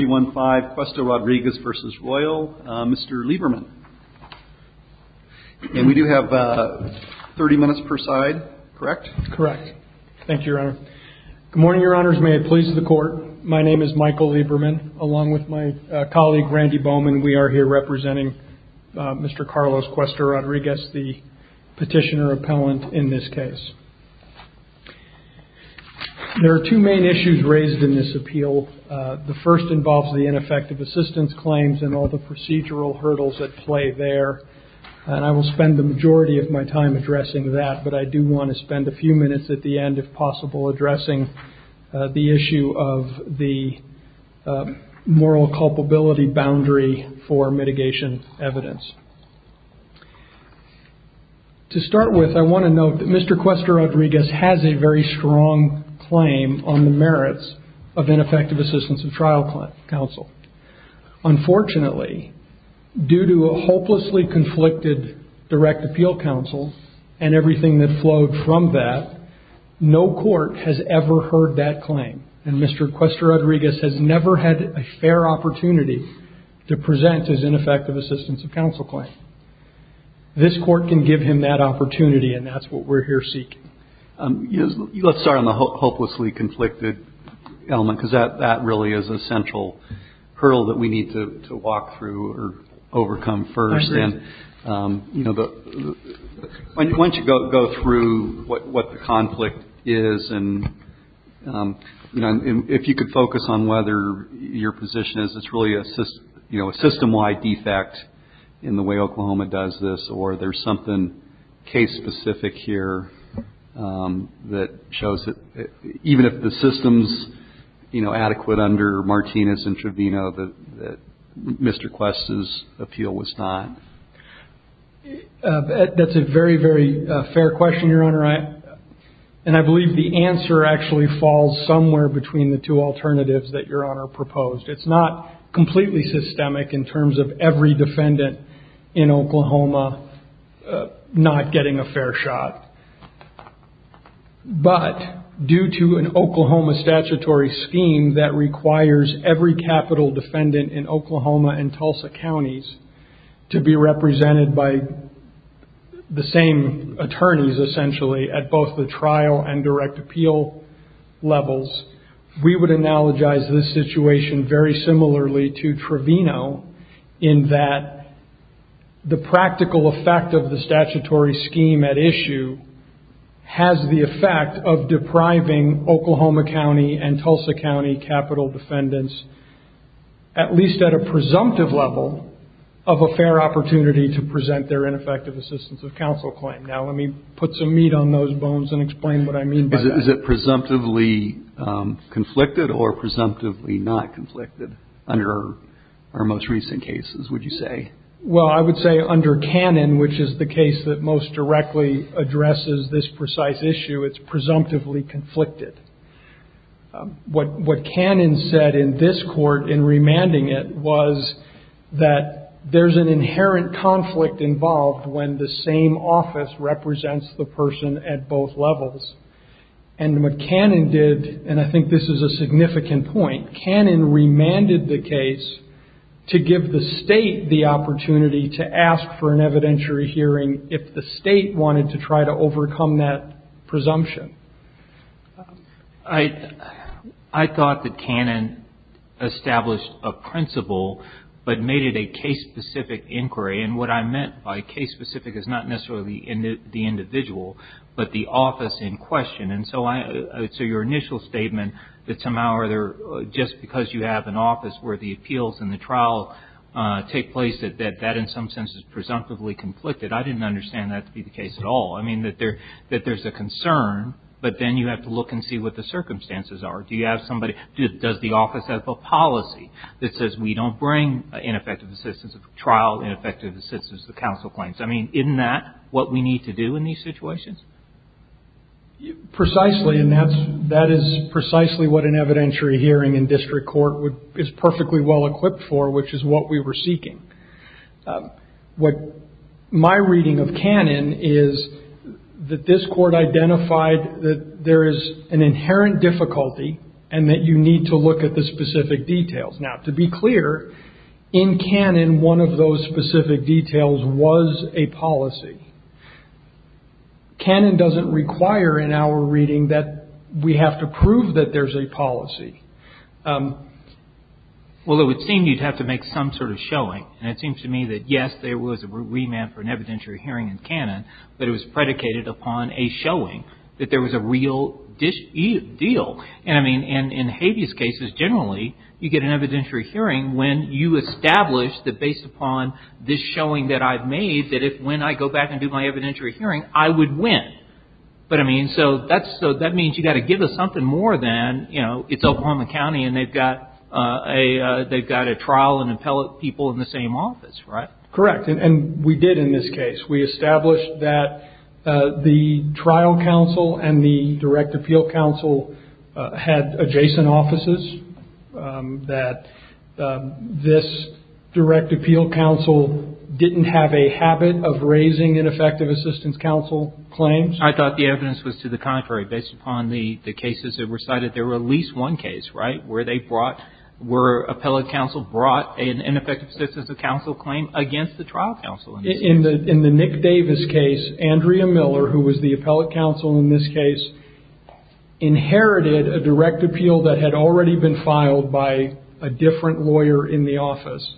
Mr. Lieberman. And we do have 30 minutes per side, correct? Correct. Thank you, Your Honor. Good morning, Your Honors. May it please the Court. My name is Michael Lieberman, along with my colleague Randy Bowman. We are here representing Mr. Carlos Cuesta-Rodriguez, the petitioner appellant in this case. There are two main issues raised in this appeal. The first involves the ineffective assistance claims and all the procedural hurdles at play there. And I will spend the majority of my time addressing that, but I do want to spend a few minutes at the end, if possible, addressing the issue of the moral culpability boundary for mitigation evidence. To start with, I want to note that Mr. Cuesta-Rodriguez has a very strong claim on the merits of ineffective assistance of trial counsel. Unfortunately, due to a hopelessly conflicted direct appeal counsel and everything that flowed from that, no court has ever heard that claim. And Mr. Cuesta-Rodriguez has never had a fair opportunity to present his ineffective assistance of counsel claim. This court can give him that opportunity, and that's what we're here seeking. Let's start on the hopelessly conflicted element, because that really is a central hurdle that we need to walk through or overcome first. I agree. Why don't you go through what the conflict is, and if you could focus on whether your position is it's really a system-wide defect in the way Oklahoma does this, or there's something case-specific here that shows that even if the system's adequate under Martinez and Trevino, that Mr. Cuesta's appeal was not? That's a very, very fair question, Your Honor. And I believe the answer actually falls somewhere between the two alternatives that Your Honor proposed. It's not completely systemic in terms of every defendant in Oklahoma not getting a fair shot. But due to an Oklahoma statutory scheme that requires every capital defendant in Oklahoma and Tulsa counties to be represented by the same attorneys, essentially, at both the trial and direct appeal levels, we would analogize this situation very similarly to Trevino, in that the practical effect of the statutory scheme at issue has the effect of depriving Oklahoma County and Tulsa County capital defendants, at least at a presumptive level, of a fair opportunity to present their ineffective assistance of counsel claim. Now, let me put some meat on those bones and explain what I mean by that. Is it presumptively conflicted or presumptively not conflicted under our most recent cases, would you say? Well, I would say under Cannon, which is the case that most directly addresses this precise issue, it's presumptively conflicted. What Cannon said in this court in remanding it was that there's an inherent conflict involved when the same office represents the person at both levels. And what Cannon did, and I think this is a significant point, Cannon remanded the case to give the state the opportunity to ask for an evidentiary hearing if the state wanted to try to overcome that presumption. I thought that Cannon established a principle, but made it a case-specific inquiry. And what I meant by case-specific is not necessarily the individual, but the office in question. And so your initial statement that somehow or other, just because you have an office where the appeals and the trial take place, that that in some sense is presumptively conflicted, I didn't understand that to be the case at all. I mean, that there's a concern, but then you have to look and see what the circumstances are. Do you have somebody, does the office have a policy that says we don't bring ineffective assistance of trial, ineffective assistance of counsel claims? I mean, isn't that what we need to do in these situations? Precisely, and that is precisely what an evidentiary hearing in district court is perfectly well-equipped for, which is what we were seeking. What my reading of Cannon is that this court identified that there is an inherent difficulty and that you need to look at the specific details. Now, to be clear, in Cannon, one of those specific details was a policy. Cannon doesn't require in our reading that we have to prove that there's a policy. Well, it would seem you'd have to make some sort of showing. And it seems to me that, yes, there was a remand for an evidentiary hearing in Cannon, but it was predicated upon a showing that there was a real deal. And I mean, in habeas cases, generally, you get an evidentiary hearing when you establish that, based upon this showing that I've made, that if, when I go back and do my evidentiary hearing, I would win. But, I mean, so that means you've got to give us something more than, you know, it's Oklahoma County and they've got a trial and appellate people in the same office, right? Correct, and we did in this case. We established that the trial counsel and the direct appeal counsel had adjacent offices, that this direct appeal counsel didn't have a habit of raising ineffective assistance counsel claims. I thought the evidence was to the contrary. Based upon the cases that were cited, there were at least one case, right, where they brought, where appellate counsel brought an ineffective assistance counsel claim against the trial counsel. In the Nick Davis case, Andrea Miller, who was the appellate counsel in this case, inherited a direct appeal that had already been filed by a different lawyer in the office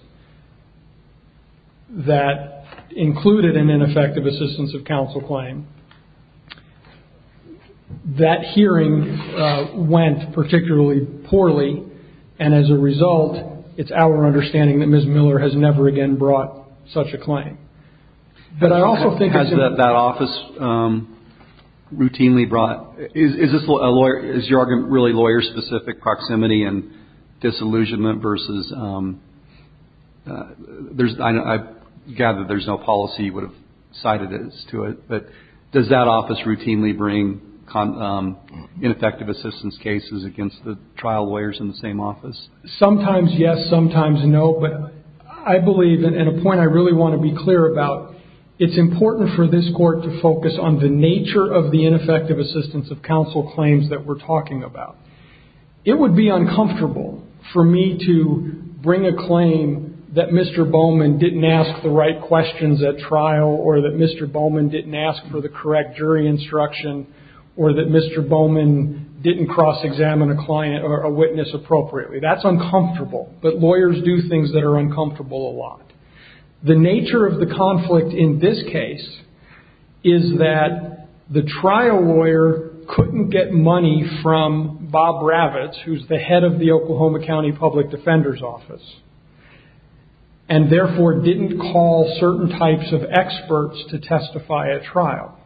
that included an ineffective assistance of counsel claim. That hearing went particularly poorly, and as a result, it's our understanding that Ms. Miller has never again brought such a claim. Has that office routinely brought, is this a lawyer, is your argument really lawyer-specific proximity and disillusionment versus, I gather there's no policy you would have cited as to it, but does that office routinely bring ineffective assistance cases against the trial lawyers in the same office? Sometimes yes, sometimes no, but I believe, and a point I really want to be clear about, it's important for this court to focus on the nature of the ineffective assistance of counsel claims that we're talking about. It would be uncomfortable for me to bring a claim that Mr. Bowman didn't ask the right questions at trial, or that Mr. Bowman didn't ask for the correct jury instruction, or that Mr. Bowman didn't cross-examine a witness appropriately. That's uncomfortable, but lawyers do things that are uncomfortable a lot. The nature of the conflict in this case is that the trial lawyer couldn't get money from Bob Ravitz, who's the head of the Oklahoma County Public Defender's Office, and therefore didn't call certain types of experts to testify at trial.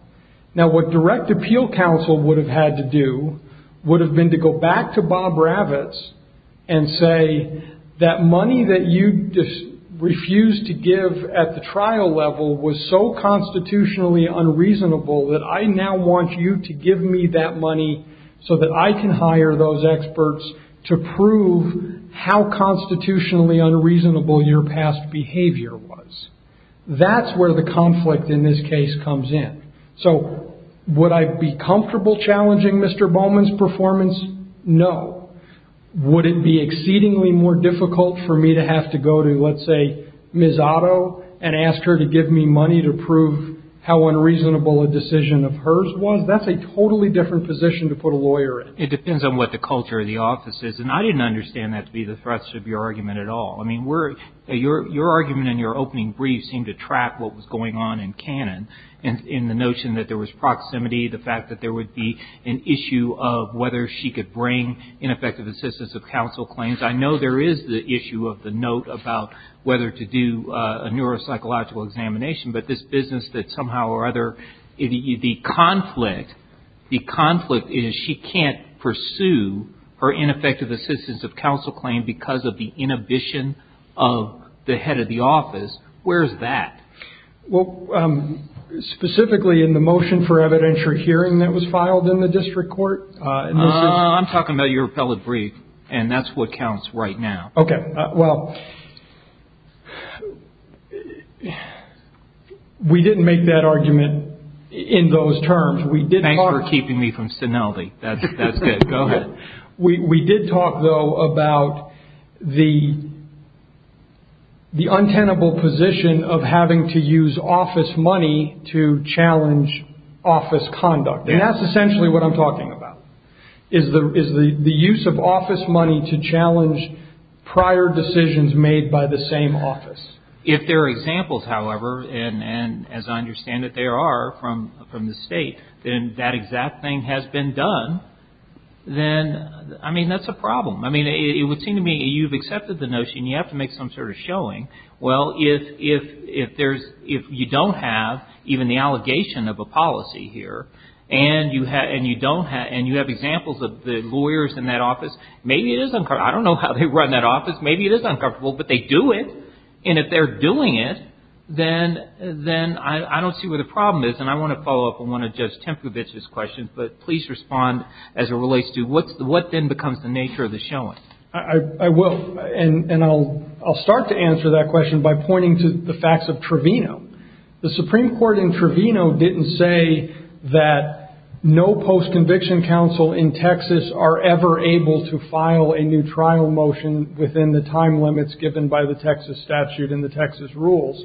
Now, what direct appeal counsel would have had to do would have been to go back to Bob Ravitz and say that money that you refused to give at the trial level was so constitutionally unreasonable that I now want you to give me that money so that I can hire those experts to prove how constitutionally unreasonable your past behavior was. That's where the conflict in this case comes in. So would I be comfortable challenging Mr. Bowman's performance? No. Would it be exceedingly more difficult for me to have to go to, let's say, Ms. Otto, and ask her to give me money to prove how unreasonable a decision of hers was? That's a totally different position to put a lawyer in. It depends on what the culture of the office is, and I didn't understand that to be the thrust of your argument at all. I mean, your argument in your opening brief seemed to trap what was going on in canon in the notion that there was proximity, the fact that there would be an issue of whether she could bring ineffective assistance of counsel claims. I know there is the issue of the note about whether to do a neuropsychological examination, but this business that somehow or other, the conflict is she can't pursue her ineffective assistance of counsel claim because of the inhibition of the head of the office. Where is that? Well, specifically in the motion for evidentiary hearing that was filed in the district court. I'm talking about your appellate brief, and that's what counts right now. Okay, well, we didn't make that argument in those terms. Thanks for keeping me from Suneldi. That's good. Go ahead. We did talk, though, about the untenable position of having to use office money to challenge office conduct, and that's essentially what I'm talking about, is the use of office money to challenge prior decisions made by the same office. If there are examples, however, and as I understand it, there are from the State, then that exact thing has been done, then, I mean, that's a problem. I mean, it would seem to me you've accepted the notion you have to make some sort of showing. Well, if you don't have even the allegation of a policy here, and you have examples of the lawyers in that office, maybe it is uncomfortable. I don't know how they run that office. Maybe it is uncomfortable, but they do it, and if they're doing it, then I don't see where the problem is, and I want to follow up on one of Judge Tempovich's questions, but please respond as it relates to what then becomes the nature of the showing. I will, and I'll start to answer that question by pointing to the facts of Trevino. The Supreme Court in Trevino didn't say that no post-conviction counsel in Texas are ever able to file a new trial motion within the time limits given by the Texas statute and the Texas rules.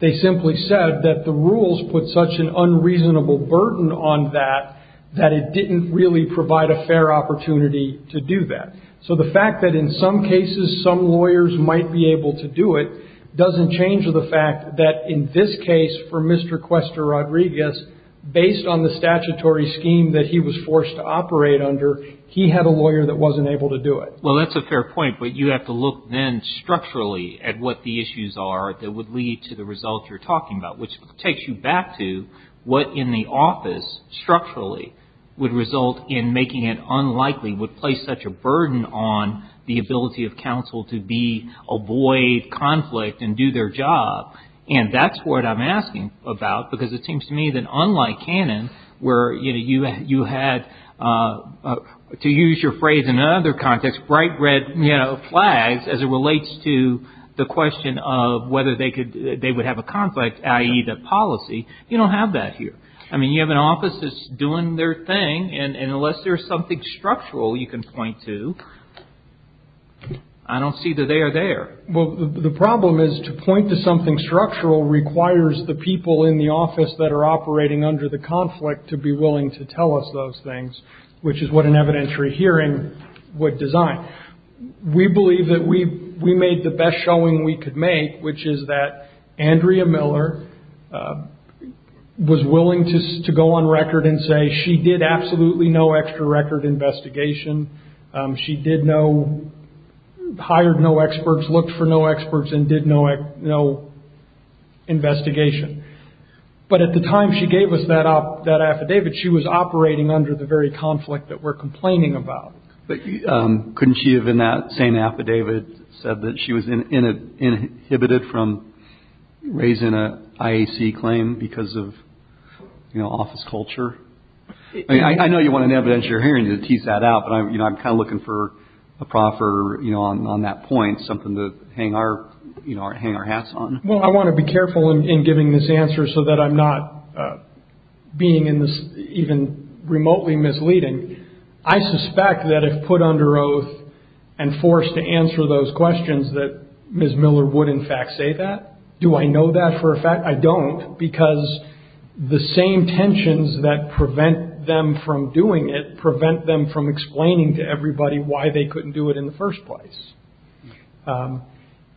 They simply said that the rules put such an unreasonable burden on that that it didn't really provide a fair opportunity to do that. So the fact that in some cases some lawyers might be able to do it doesn't change the fact that in this case, for Mr. Cuesta Rodriguez, based on the statutory scheme that he was forced to operate under, he had a lawyer that wasn't able to do it. Well, that's a fair point, but you have to look then structurally at what the issues are that would lead to the results you're talking about, which takes you back to what in the office, structurally, would result in making it unlikely, would place such a burden on the ability of counsel to avoid conflict and do their job, and that's what I'm asking about, because it seems to me that unlike Cannon, where you had, to use your phrase in another context, bright red flags, as it relates to the question of whether they would have a conflict, i.e., the policy, you don't have that here. I mean, you have an office that's doing their thing, and unless there's something structural you can point to, I don't see that they are there. Well, the problem is to point to something structural requires the people in the office that are operating under the conflict to be willing to tell us those things, which is what an evidentiary hearing would design. We believe that we made the best showing we could make, which is that Andrea Miller was willing to go on record and say she did absolutely no extra record investigation. She did no, hired no experts, looked for no experts, and did no investigation. But at the time she gave us that affidavit, she was operating under the very conflict that we're complaining about. But couldn't she have, in that same affidavit, said that she was inhibited from raising an IAC claim because of, you know, office culture? I know you want an evidentiary hearing to tease that out, but I'm kind of looking for a proper, you know, on that point, something to hang our hats on. Well, I want to be careful in giving this answer so that I'm not being even remotely misleading. I suspect that if put under oath and forced to answer those questions that Ms. Miller would in fact say that. Do I know that for a fact? I don't because the same tensions that prevent them from doing it prevent them from explaining to everybody why they couldn't do it in the first place.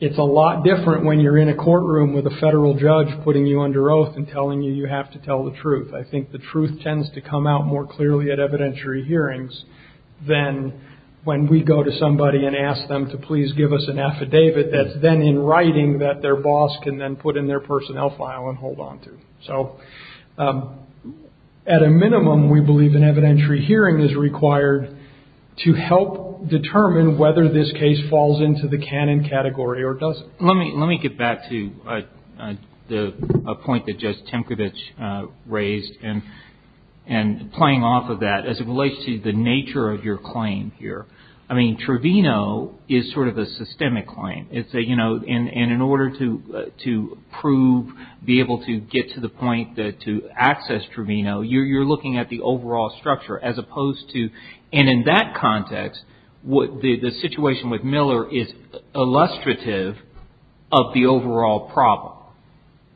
It's a lot different when you're in a courtroom with a federal judge putting you under oath and telling you you have to tell the truth. I think the truth tends to come out more clearly at evidentiary hearings than when we go to somebody and ask them to please give us an affidavit that's then in writing that their boss can then put in their personnel file and hold on to. So at a minimum, we believe an evidentiary hearing is required to help determine whether this case falls into the canon category or doesn't. Let me get back to a point that Judge Temkovich raised and playing off of that as it relates to the nature of your claim here. Trevino is sort of a systemic claim. In order to prove, be able to get to the point to access Trevino, you're looking at the overall structure as opposed to and in that context, the situation with Miller is illustrative of the overall problem.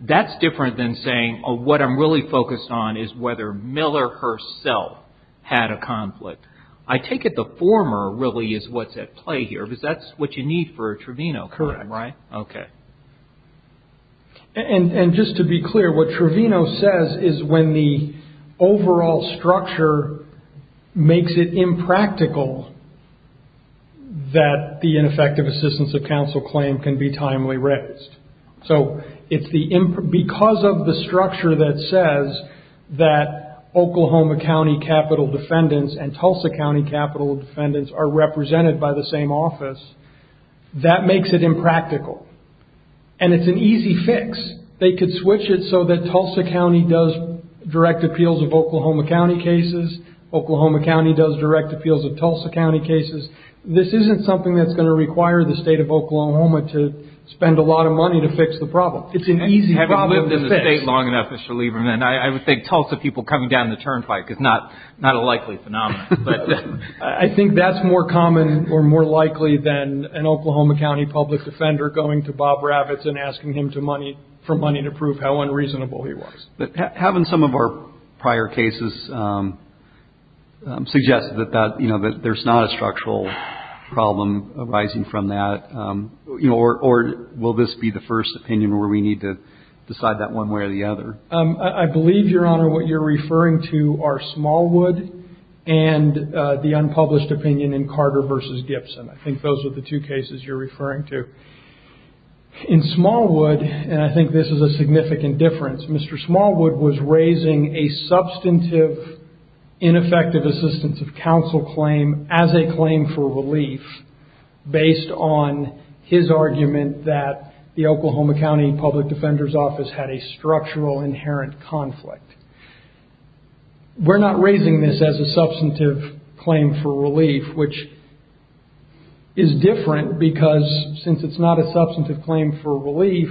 That's different than saying what I'm really focused on is whether Miller herself had a conflict. I take it the former really is what's at play here because that's what you need for a Trevino claim, right? Correct. Okay. And just to be clear, what Trevino says is when the overall structure makes it impractical that the ineffective assistance of counsel claim can be are represented by the same office, that makes it impractical. And it's an easy fix. They could switch it so that Tulsa County does direct appeals of Oklahoma County cases. Oklahoma County does direct appeals of Tulsa County cases. This isn't something that's going to require the state of Oklahoma to spend a lot of money to fix the problem. It's an easy problem to fix. And I would think Tulsa people coming down the turnpike is not a likely phenomenon. I think that's more common or more likely than an Oklahoma County public defender going to Bob Ravitz and asking him for money to prove how unreasonable he was. Having some of our prior cases suggest that there's not a structural problem arising from that, or will this be the first opinion where we need to decide that one way or the other? I believe, Your Honor, what you're referring to are Smallwood and the unpublished opinion in Carter v. Gibson. I think those are the two cases you're referring to. In Smallwood, and I think this is a significant difference, Mr. Smallwood was raising a substantive, ineffective assistance of counsel claim as a claim for relief based on his argument that the Oklahoma County Public Defender's Office had a structural, inherent conflict. We're not raising this as a substantive claim for relief, which is different because since it's not a substantive claim for relief,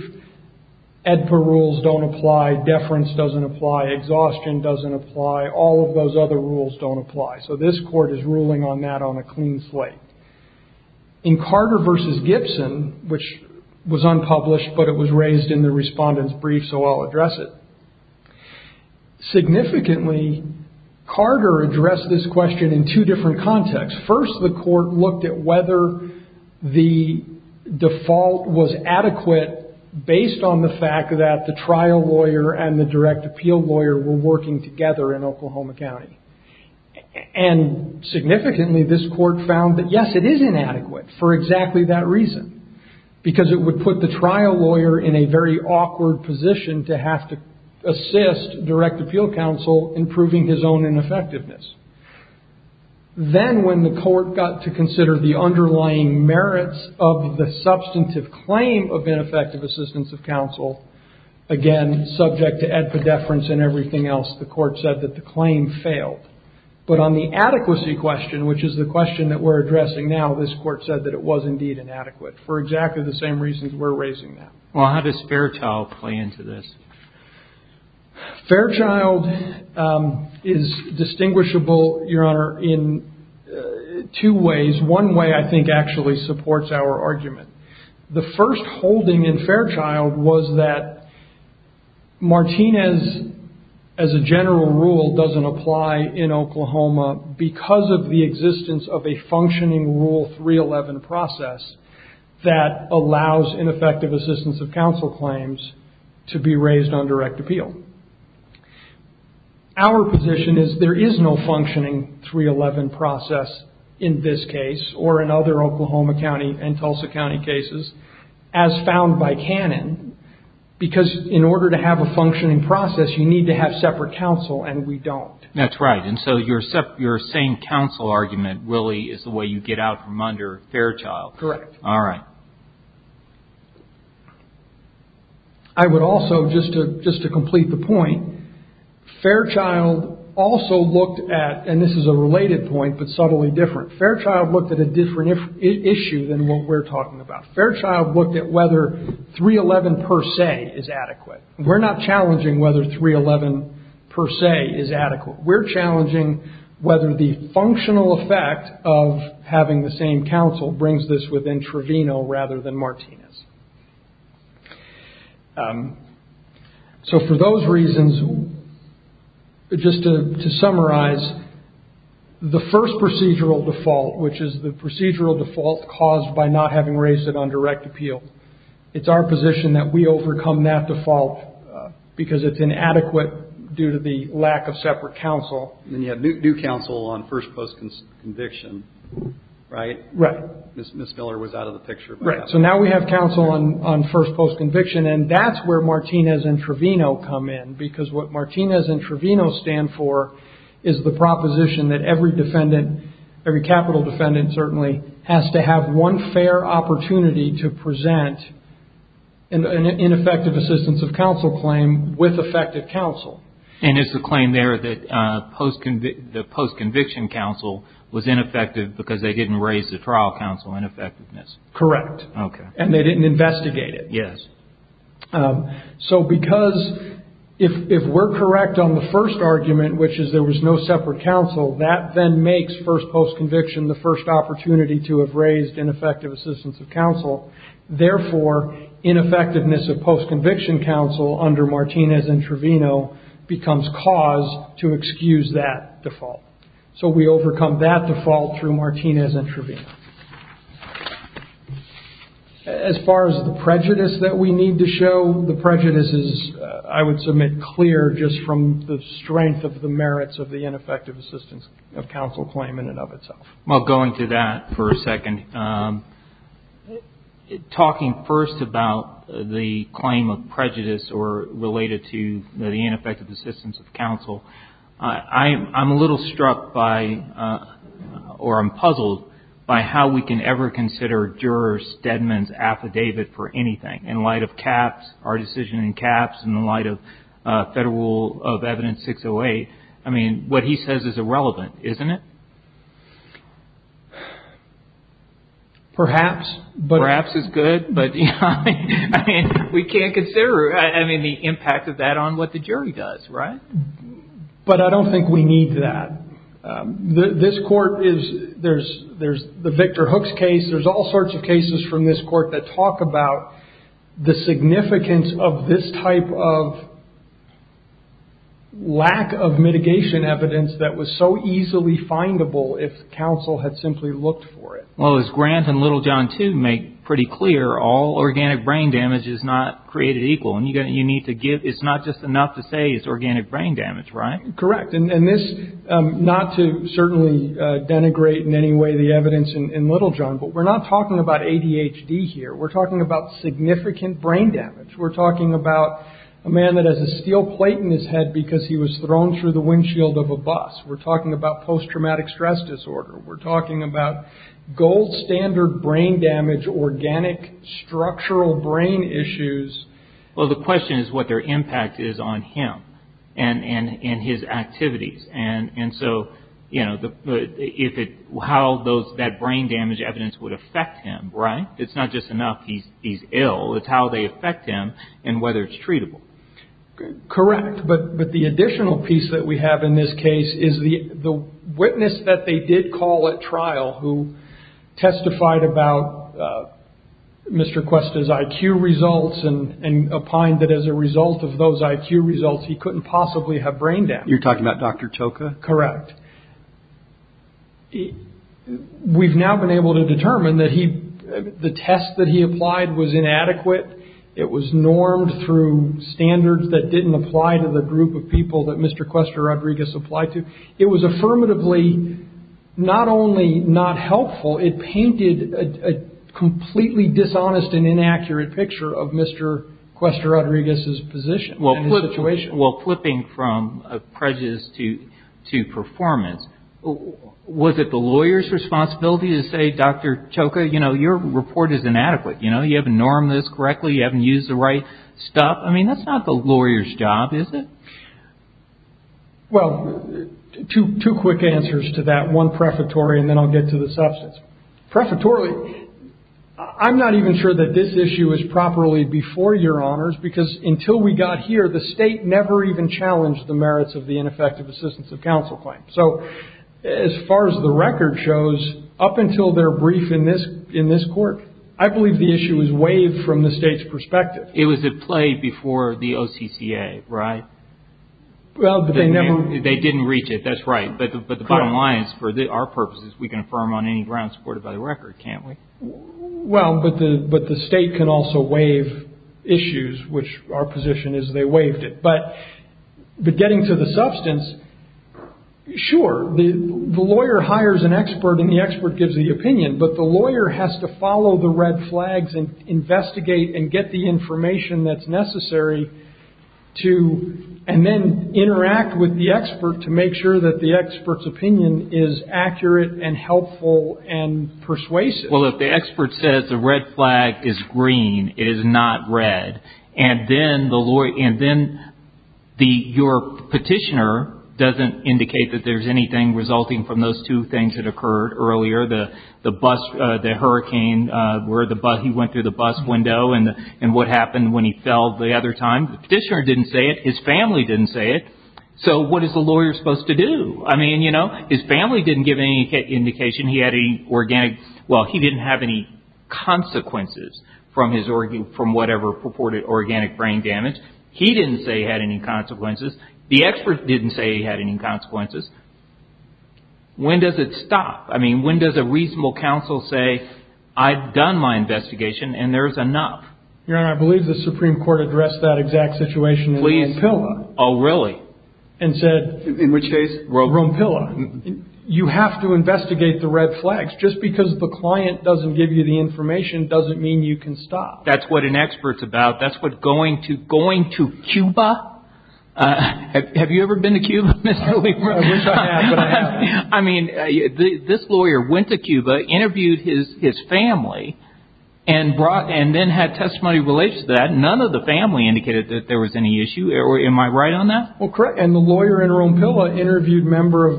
AEDPA rules don't apply, deference doesn't apply, exhaustion doesn't apply, all of those other rules don't apply. So this Court is ruling on that on a clean slate. In Carter v. Gibson, which was unpublished but it was raised in the Respondent's Brief, so I'll address it. Significantly, Carter addressed this question in two different contexts. First, the Court looked at whether the default was adequate based on the fact that the trial lawyer and the direct appeal lawyer were working together in Oklahoma County. And significantly, this Court found that, yes, it is inadequate for exactly that reason, because it would put the trial lawyer in a very awkward position to have to assist direct appeal counsel in proving his own ineffectiveness. Then, when the Court got to consider the underlying merits of the substantive claim of ineffective assistance of counsel, again, subject to AEDPA deference and everything else, the Court said that the claim failed. But on the adequacy question, which is the question that we're addressing now, this Court said that it was indeed inadequate for exactly the same reasons we're raising that. Well, how does Fairchild play into this? Fairchild is distinguishable, Your Honor, in two ways. One way, I think, actually supports our argument. The first holding in Fairchild was that Martinez, as a general rule, doesn't apply in Oklahoma because of the existence of a functioning Rule 311 process that allows ineffective assistance of counsel claims to be raised on direct appeal. Our position is there is no functioning 311 process in this case or in other Oklahoma County and Tulsa County cases, as found by canon, because in order to have a functioning process, you need to have separate counsel, and we don't. That's right. And so your saying counsel argument really is the way you get out from under Fairchild. Correct. All right. I would also, just to complete the point, Fairchild also looked at, and this is a related point but subtly different, Fairchild looked at a different issue than what we're talking about. Fairchild looked at whether 311 per se is adequate. We're not challenging whether 311 per se is adequate. We're challenging whether the functional effect of having the same counsel brings this within Trevino rather than Martinez. So for those reasons, just to summarize, the first procedural default, which is the procedural default caused by not having raised it on direct appeal, because it's inadequate due to the lack of separate counsel. And you have new counsel on first post conviction, right? Right. Ms. Miller was out of the picture. Right. So now we have counsel on first post conviction, and that's where Martinez and Trevino come in because what Martinez and Trevino stand for is the proposition that every defendant, every capital defendant certainly, has to have one fair opportunity to present an ineffective assistance of counsel claim with effective counsel. And it's a claim there that the post conviction counsel was ineffective because they didn't raise the trial counsel in effectiveness. Correct. Okay. And they didn't investigate it. Yes. So because if we're correct on the first argument, which is there was no separate counsel, that then makes first post conviction the first opportunity to have raised ineffective assistance of counsel. Therefore, ineffectiveness of post conviction counsel under Martinez and Trevino becomes cause to excuse that default. So we overcome that default through Martinez and Trevino. As far as the prejudice that we need to show, the prejudice is, I would submit, very clear just from the strength of the merits of the ineffective assistance of counsel claim in and of itself. Well, going to that for a second. Talking first about the claim of prejudice or related to the ineffective assistance of counsel, I'm a little struck by or I'm puzzled by how we can ever consider jurors, Deadman's affidavit for anything in light of Capps, our decision in Capps, in the light of Federal Rule of Evidence 608. I mean, what he says is irrelevant, isn't it? Perhaps. Perhaps is good. But we can't consider, I mean, the impact of that on what the jury does, right? But I don't think we need that. This court is, there's the Victor Hooks case, there's all sorts of cases from this court that talk about the significance of this type of lack of mitigation evidence that was so easily findable if counsel had simply looked for it. Well, as Grant and Littlejohn, too, make pretty clear, all organic brain damage is not created equal. It's not just enough to say it's organic brain damage, right? Correct. And this, not to certainly denigrate in any way the evidence in Littlejohn, but we're not talking about ADHD here. We're talking about significant brain damage. We're talking about a man that has a steel plate in his head because he was thrown through the windshield of a bus. We're talking about post-traumatic stress disorder. We're talking about gold standard brain damage, organic structural brain issues. Well, the question is what their impact is on him and his activities. And so, you know, how that brain damage evidence would affect him, right? It's not just enough he's ill. It's how they affect him and whether it's treatable. Correct. But the additional piece that we have in this case is the witness that they did call at trial who testified about Mr. Cuesta's IQ results and opined that as a result of those IQ results, he couldn't possibly have brain damage. You're talking about Dr. Choka? Correct. We've now been able to determine that the test that he applied was inadequate. It was normed through standards that didn't apply to the group of people that Mr. Cuesta Rodriguez applied to. It was affirmatively not only not helpful, it painted a completely dishonest and inaccurate picture of Mr. Cuesta Rodriguez's position. Well, clipping from prejudice to performance, was it the lawyer's responsibility to say, Dr. Choka, you know, your report is inadequate. You know, you haven't normed this correctly. You haven't used the right stuff. I mean, that's not the lawyer's job, is it? Well, two quick answers to that. One, prefatory, and then I'll get to the substance. Prefatorily, I'm not even sure that this issue is properly before your honors, because until we got here, the state never even challenged the merits of the ineffective assistance of counsel claim. So as far as the record shows, up until their brief in this court, I believe the issue is waived from the state's perspective. It was at play before the OCCA, right? They didn't reach it, that's right. But the bottom line is, for our purposes, we can affirm on any ground supported by the record, can't we? Well, but the state can also waive issues, which our position is they waived it. But getting to the substance, sure, the lawyer hires an expert and the expert gives the opinion, but the lawyer has to follow the red flags and investigate and get the information that's necessary and then interact with the expert to make sure that the expert's opinion is accurate and helpful and persuasive. Well, if the expert says the red flag is green, it is not red, and then your petitioner doesn't indicate that there's anything resulting from those two things that occurred earlier, the hurricane where he went through the bus window and what happened when he fell the other time. The petitioner didn't say it. His family didn't say it. So what is the lawyer supposed to do? I mean, you know, his family didn't give any indication he had any organic, well, he didn't have any consequences from whatever purported organic brain damage. He didn't say he had any consequences. The expert didn't say he had any consequences. When does it stop? I mean, when does a reasonable counsel say, I've done my investigation and there's enough? Your Honor, I believe the Supreme Court addressed that exact situation in Rome Pilla. Oh, really? In which case? Rome Pilla. You have to investigate the red flags. Just because the client doesn't give you the information doesn't mean you can stop. That's what an expert's about. That's what going to Cuba. Have you ever been to Cuba, Mr. Lieber? I wish I had, but I haven't. I mean, this lawyer went to Cuba, interviewed his family, and then had testimony related to that. None of the family indicated that there was any issue. Am I right on that? Well, correct. And the lawyer in Rome Pilla interviewed members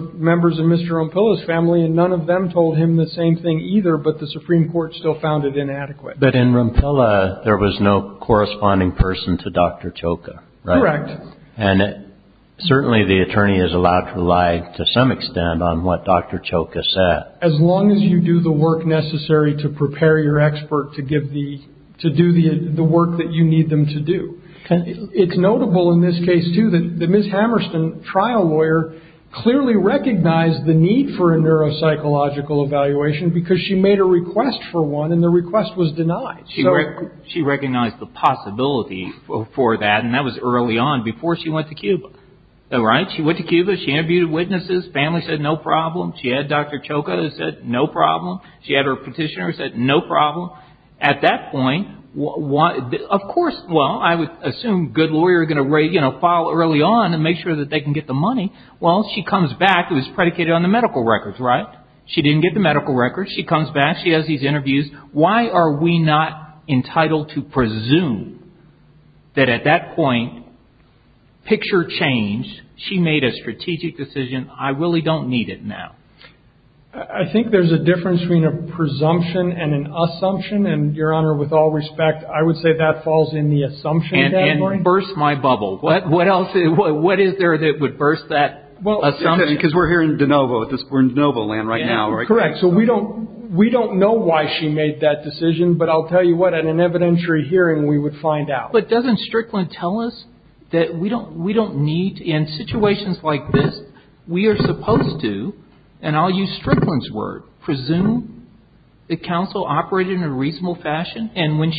of Mr. Rome Pilla's family, and none of them told him the same thing either, but the Supreme Court still found it inadequate. But in Rome Pilla, there was no corresponding person to Dr. Choka, right? Correct. And certainly the attorney is allowed to lie to some extent on what Dr. Choka said. As long as you do the work necessary to prepare your expert to do the work that you need them to do. It's notable in this case, too, that Ms. Hammerstein, trial lawyer, clearly recognized the need for a neuropsychological evaluation because she made a request for one, and the request was denied. She recognized the possibility for that, and that was early on, before she went to Cuba. Right? She went to Cuba. She interviewed witnesses. Family said no problem. She had Dr. Choka who said no problem. She had her petitioner who said no problem. At that point, of course, well, I would assume good lawyers are going to file early on and make sure that they can get the money. Well, she comes back. It was predicated on the medical records, right? She didn't get the medical records. She comes back. She has these interviews. Why are we not entitled to presume that at that point, picture changed. She made a strategic decision. I really don't need it now. I think there's a difference between a presumption and an assumption, and, Your Honor, with all respect, I would say that falls in the assumption category. And burst my bubble. What else is there that would burst that assumption? Because we're here in DeNovo. We're in DeNovo land right now. Correct. So we don't know why she made that decision, but I'll tell you what, at an evidentiary hearing, we would find out. But doesn't Strickland tell us that we don't need, in situations like this, we are supposed to, and I'll use Strickland's word, presume the counsel operated in a reasonable fashion, and when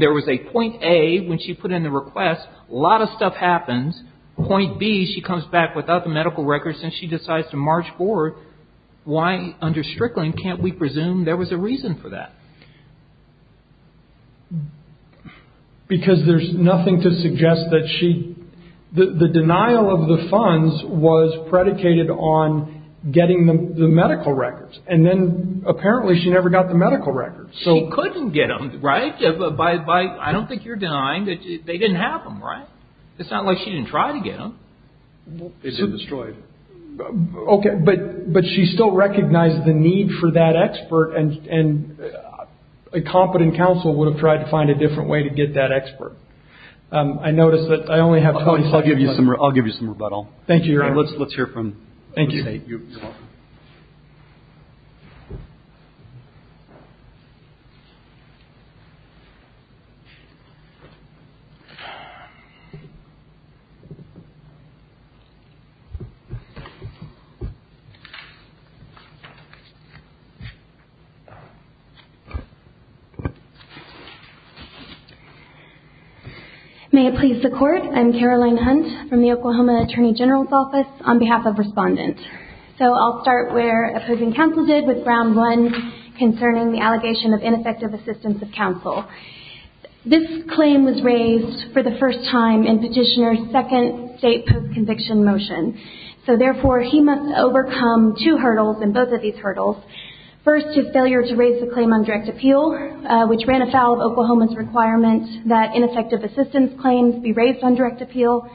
there was a point A, when she put in the request, a lot of stuff happens. Point B, she comes back without the medical records, and she decides to march forward. Why, under Strickland, can't we presume there was a reason for that? Because there's nothing to suggest that she, the denial of the funds was predicated on getting the medical records. And then, apparently, she never got the medical records. She couldn't get them, right? I don't think you're denying that they didn't have them, right? It's not like she didn't try to get them. They just destroyed them. Okay, but she still recognized the need for that expert, and a competent counsel would have tried to find a different way to get that expert. I notice that I only have 20 seconds left. I'll give you some rebuttal. Let's hear from the State. Thank you. You're welcome. May it please the Court, I'm Caroline Hunt from the Oklahoma Attorney General's Office on behalf of Respondent. So I'll start where opposing counsel did with ground one concerning the allegation of ineffective assistance of counsel. This claim was raised for the first time in Petitioner's second state post-conviction motion. So, therefore, he must overcome two hurdles in both of these hurdles. First, his failure to raise the claim on direct appeal, which ran afoul of Oklahoma's requirement that ineffective assistance claims be raised on direct appeal,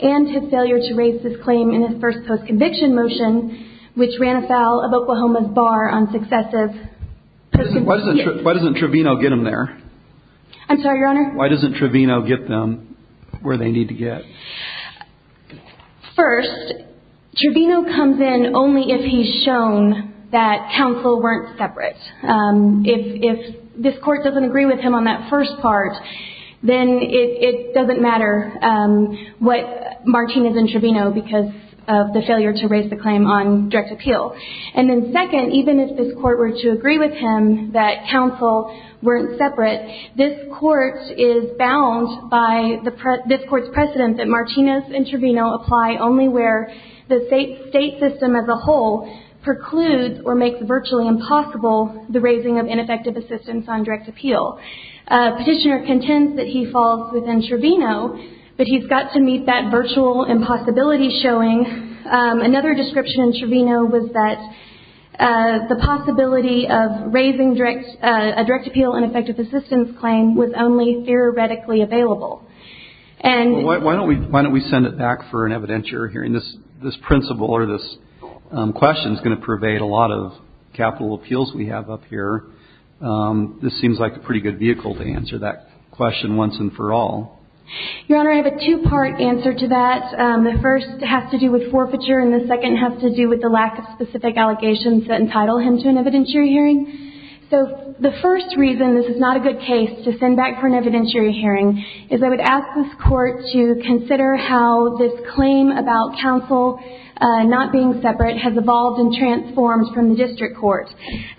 and his failure to raise this claim in his first post-conviction motion, which ran afoul of Oklahoma's bar on successive post-conviction. Why doesn't Trevino get them there? I'm sorry, Your Honor? Why doesn't Trevino get them where they need to get? First, Trevino comes in only if he's shown that counsel weren't separate. If this Court doesn't agree with him on that first part, then it doesn't matter what Martinez and Trevino because of the failure to raise the claim on direct appeal. And then second, even if this Court were to agree with him that counsel weren't separate, this Court is bound by this Court's precedent that Martinez and Trevino apply only where the state system as a whole precludes or makes virtually impossible the raising of ineffective assistance on direct appeal. Petitioner contends that he falls within Trevino, but he's got to meet that virtual impossibility showing. Another description in Trevino was that the possibility of raising a direct appeal ineffective assistance claim was only theoretically available. Why don't we send it back for an evidentiary hearing? This principle or this question is going to pervade a lot of capital appeals we have up here. This seems like a pretty good vehicle to answer that question once and for all. Your Honor, I have a two-part answer to that. The first has to do with forfeiture, and the second has to do with the lack of specific allegations that entitle him to an evidentiary hearing. The first reason this is not a good case to send back for an evidentiary hearing is I would ask this Court to consider how this claim about counsel not being separate has evolved and transformed from the district court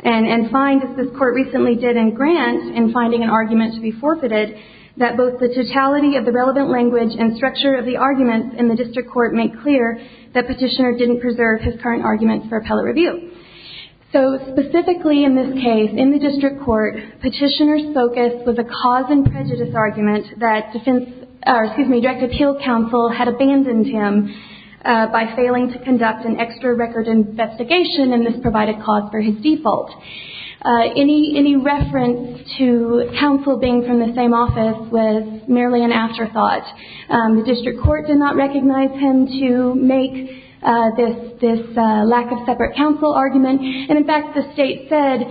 and find, as this Court recently did in Grant in finding an argument to be forfeited, that both the totality of the relevant language and structure of the arguments in the district court make clear that Petitioner didn't preserve his current arguments for appellate review. So specifically in this case, in the district court, Petitioner's focus was a cause and prejudice argument that Direct Appeal Counsel had abandoned him by failing to conduct an extra record investigation in this provided cause for his default. Any reference to counsel being from the same office was merely an afterthought. The district court did not recognize him to make this lack of separate counsel argument. And, in fact, the State said,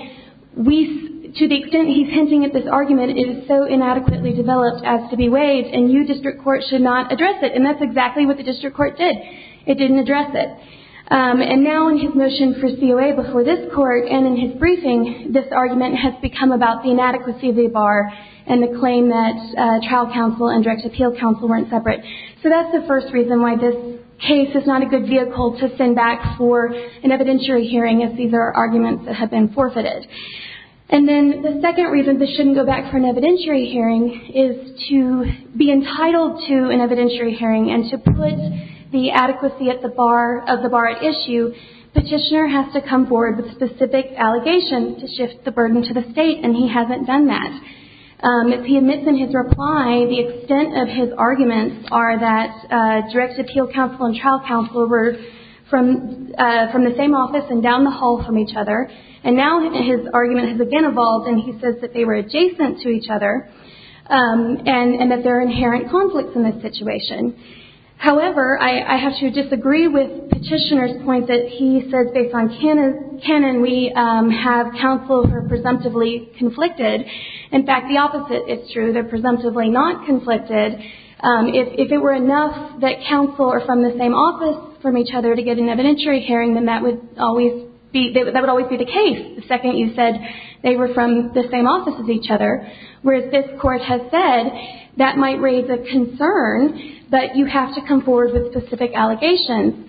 to the extent he's hinting at this argument, it is so inadequately developed as to be waived and you, district court, should not address it. And that's exactly what the district court did. It didn't address it. And now in his motion for COA before this Court and in his briefing, this argument has become about the inadequacy of the bar and the claim that trial counsel and Direct Appeal Counsel weren't separate. So that's the first reason why this case is not a good vehicle to send back for an evidentiary hearing if these are arguments that have been forfeited. And then the second reason this shouldn't go back for an evidentiary hearing is to be entitled to an evidentiary hearing and to put the adequacy of the bar at issue, Petitioner has to come forward with specific allegations to shift the burden to the State and he hasn't done that. He admits in his reply the extent of his arguments are that Direct Appeal Counsel and Trial Counsel were from the same office and down the hall from each other. And now his argument has again evolved and he says that they were adjacent to each other and that there are inherent conflicts in this situation. However, I have to disagree with Petitioner's point that he says, based on canon, we have counsel who are presumptively conflicted and, in fact, the opposite is true. They're presumptively not conflicted. If it were enough that counsel are from the same office from each other to get an evidentiary hearing, then that would always be the case. The second you said they were from the same office as each other, whereas this Court has said that might raise a concern that you have to come forward with specific allegations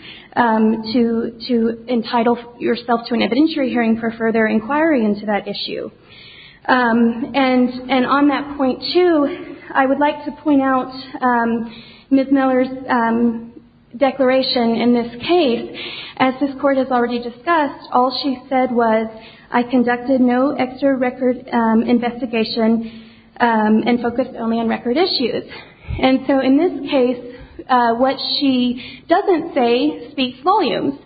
And on that point, too, I would like to point out Ms. Miller's declaration in this case. As this Court has already discussed, all she said was, I conducted no extra record investigation and focused only on record issues. And so in this case, what she doesn't say speaks volumes.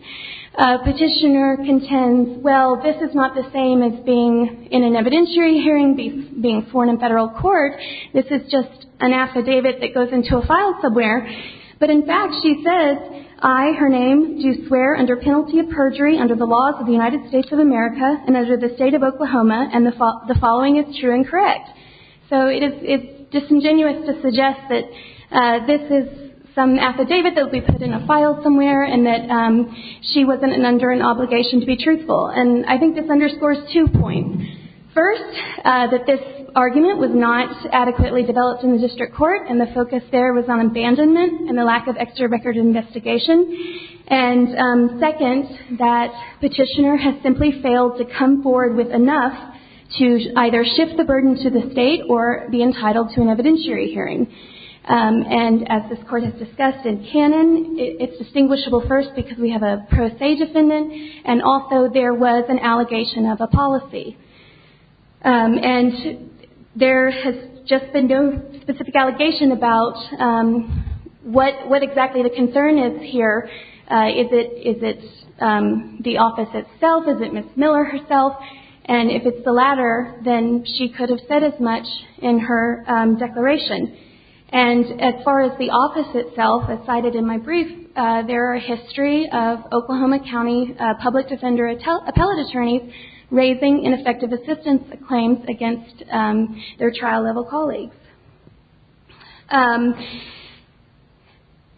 Petitioner contends, well, this is not the same as being in an evidentiary hearing, being sworn in federal court. This is just an affidavit that goes into a file somewhere. But, in fact, she says, I, her name, do swear under penalty of perjury under the laws of the United States of America and under the state of Oklahoma, and the following is true and correct. So it is disingenuous to suggest that this is some affidavit that would be put in a file somewhere and that she wasn't under an obligation to be truthful. And I think this underscores two points. First, that this argument was not adequately developed in the district court and the focus there was on abandonment and the lack of extra record investigation. And second, that Petitioner has simply failed to come forward with enough to either shift the burden to the state or be entitled to an evidentiary hearing. And as this Court has discussed in canon, it's distinguishable first because we have a pro se defendant and also there was an allegation of a policy. And there has just been no specific allegation about what exactly the concern is here. Is it the office itself? Is it Ms. Miller herself? And if it's the latter, then she could have said as much in her declaration. And as far as the office itself, as cited in my brief, there are a history of Oklahoma County public defender appellate attorneys raising ineffective assistance claims against their trial level colleagues.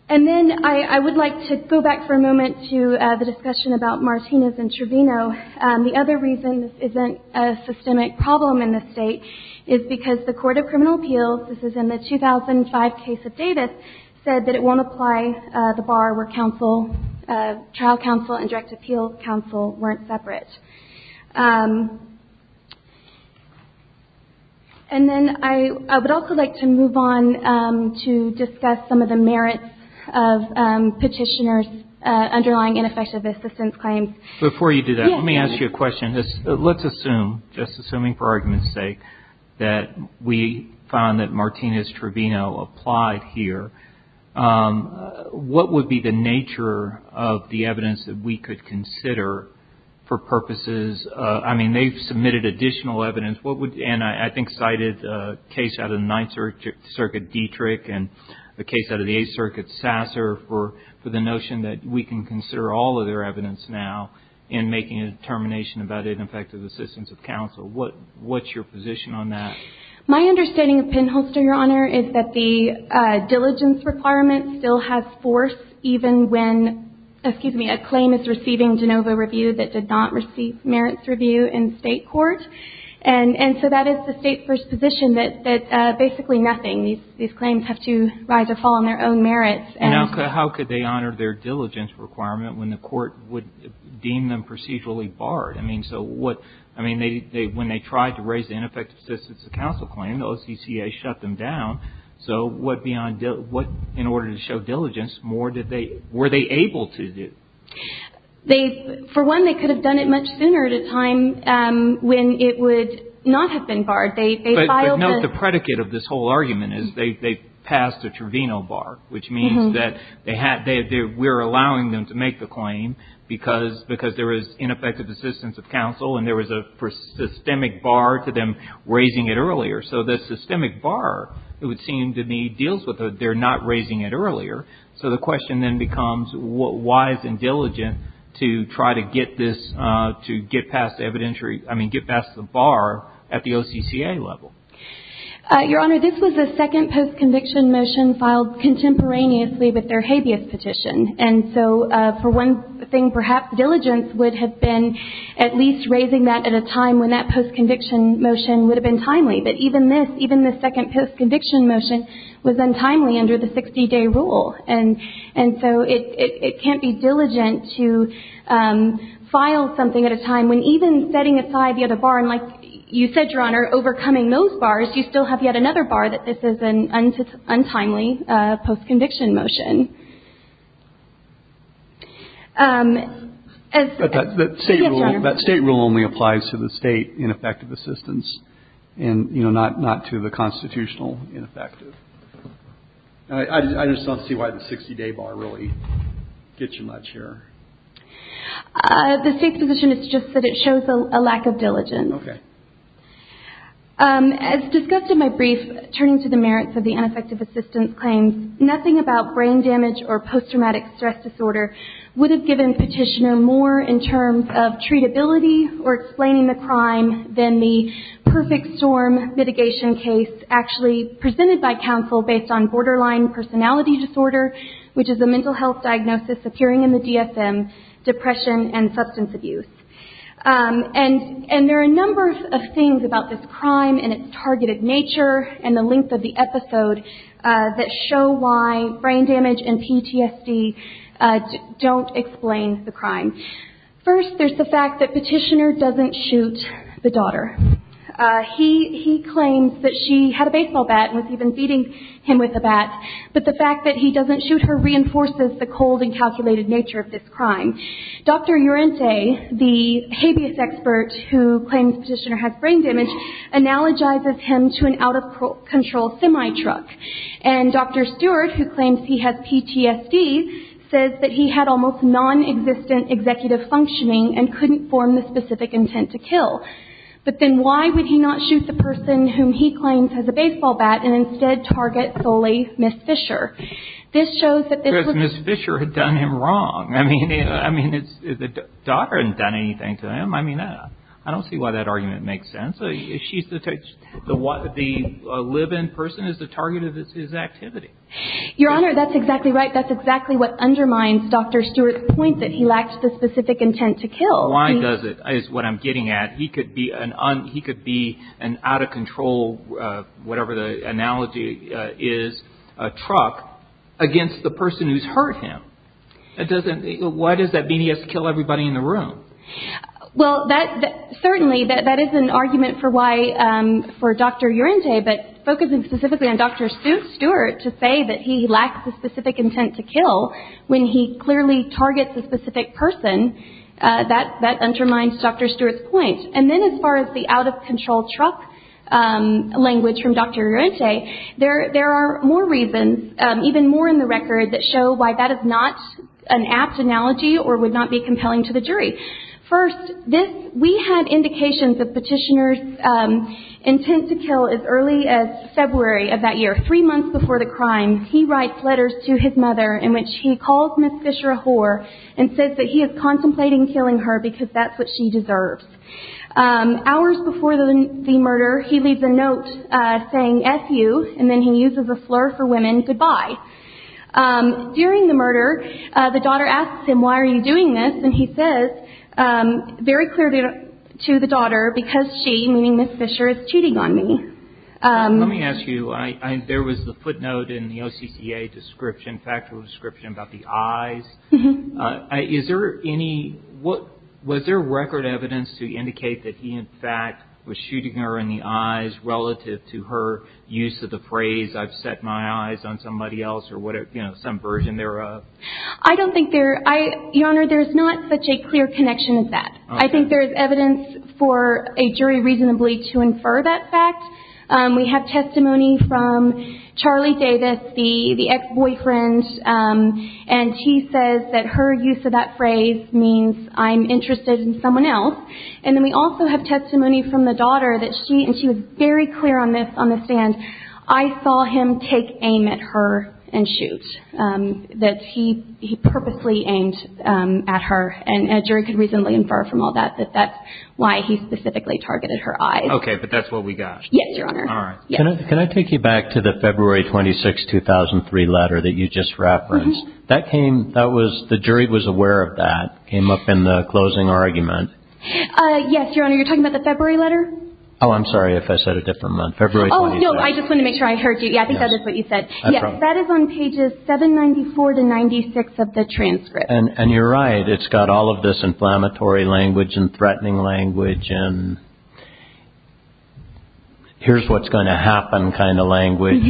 And then I would like to go back for a moment to the discussion about Martinez and Trevino. The other reason this isn't a systemic problem in this state is because the Court of Criminal Appeals, this is in the 2005 case of Davis, said that it won't apply the bar where trial counsel and direct appeal counsel weren't separate. And then I would also like to move on to discuss some of the merits of Petitioner's underlying ineffective assistance claims. Before you do that, let me ask you a question. Let's assume, just assuming for argument's sake, that we found that Martinez-Trevino applied here, what would be the nature of the evidence that we could consider for purposes? I mean, they've submitted additional evidence, and I think cited a case out of the Ninth Circuit, Dietrich, and a case out of the Eighth Circuit, Sasser, for the notion that we can consider all of their evidence now in making a determination about ineffective assistance of counsel. What's your position on that? My understanding of Penholster, Your Honor, is that the diligence requirement still has force even when, excuse me, a claim is receiving de novo review that did not receive merits review in state court. And so that is the state's position that basically nothing. These claims have to rise or fall on their own merits. And how could they honor their diligence requirement when the court would deem them procedurally barred? I mean, when they tried to raise the ineffective assistance of counsel claim, the OCCA shut them down. So in order to show diligence, were they able to do? For one, they could have done it much sooner at a time when it would not have been barred. But note the predicate of this whole argument is they passed a Trevino bar, which means that we're allowing them to make the claim because there is ineffective assistance of counsel and there was a systemic bar to them raising it earlier. So the systemic bar, it would seem to me, deals with they're not raising it earlier. So the question then becomes why is it diligent to try to get this, to get past the evidentiary, I mean, get past the bar at the OCCA level? Your Honor, this was the second post-conviction motion filed contemporaneously with their habeas petition. And so for one thing, perhaps diligence would have been at least raising that at a time when that post-conviction motion would have been timely. But even this, even the second post-conviction motion was untimely under the 60-day rule. And so it can't be diligent to file something at a time when even setting aside the other bar, and like you said, Your Honor, overcoming those bars, you still have yet another bar that this is an untimely post-conviction motion. But that state rule only applies to the state ineffective assistance and, you know, not to the constitutional ineffective. I just don't see why the 60-day bar really gets you much here. The state's position is just that it shows a lack of diligence. Okay. As discussed in my brief, turning to the merits of the ineffective assistance claims, nothing about brain damage or post-traumatic stress disorder would have given Petitioner more in terms of treatability or explaining the crime than the perfect storm mitigation case actually presented by counsel based on borderline personality disorder, which is a mental health diagnosis appearing in the DSM, depression, and substance abuse. And there are a number of things about this crime and its targeted nature and the length of the episode that show why brain damage and PTSD don't explain the crime. First, there's the fact that Petitioner doesn't shoot the daughter. He claims that she had a baseball bat and was even feeding him with a bat, but the fact that he doesn't shoot her reinforces the cold and calculated nature of this crime. Dr. Uriente, the habeas expert who claims Petitioner has brain damage, analogizes him to an out-of-control semi-truck. And Dr. Stewart, who claims he has PTSD, says that he had almost nonexistent executive functioning and couldn't form the specific intent to kill. But then why would he not shoot the person whom he claims has a baseball bat and instead target solely Ms. Fisher? This shows that this was... Because Ms. Fisher had done him wrong. I mean, the daughter hadn't done anything to him. I mean, I don't see why that argument makes sense. The live-in person is the target of his activity. Your Honor, that's exactly right. That's exactly what undermines Dr. Stewart's point that he lacked the specific intent to kill. Why does it, is what I'm getting at. He could be an out-of-control, whatever the analogy is, truck, against the person who's hurt him. Why does that mean he has to kill everybody in the room? Well, certainly that is an argument for Dr. Uriente, but focusing specifically on Dr. Stewart to say that he lacks the specific intent to kill when he clearly targets a specific person, that undermines Dr. Stewart's point. And then as far as the out-of-control truck language from Dr. Uriente, there are more reasons, even more in the record, that show why that is not an apt analogy or would not be compelling to the jury. First, we had indications of Petitioner's intent to kill as early as February of that year, three months before the crime. He writes letters to his mother in which he calls Ms. Fisher a whore and says that he is contemplating killing her because that's what she deserves. Hours before the murder, he leaves a note saying, F-you, and then he uses a flirt for women, goodbye. During the murder, the daughter asks him, why are you doing this? And he says very clearly to the daughter, because she, meaning Ms. Fisher, is cheating on me. Let me ask you, there was the footnote in the OCCA description, factual description about the eyes. Is there any, was there record evidence to indicate that he, in fact, was shooting her in the eyes relative to her use of the phrase, I've set my eyes on somebody else or some version thereof? I don't think there, Your Honor, there's not such a clear connection as that. I think there is evidence for a jury reasonably to infer that fact. We have testimony from Charlie Davis, the ex-boyfriend, and he says that her use of that phrase means I'm interested in someone else. And then we also have testimony from the daughter that she, and she was very clear on this on the stand, I saw him take aim at her and shoot, that he purposely aimed at her, and a jury could reasonably infer from all that that that's why he specifically targeted her eyes. Okay, but that's what we got. Yes, Your Honor. All right. Can I take you back to the February 26, 2003 letter that you just referenced? That came, that was, the jury was aware of that, came up in the closing argument. Yes, Your Honor, you're talking about the February letter? Oh, I'm sorry if I said a different one. Oh, no, I just wanted to make sure I heard you. Yeah, I think that is what you said. Yes, that is on pages 794 to 96 of the transcript. And you're right, it's got all of this inflammatory language and threatening language and here's what's going to happen kind of language.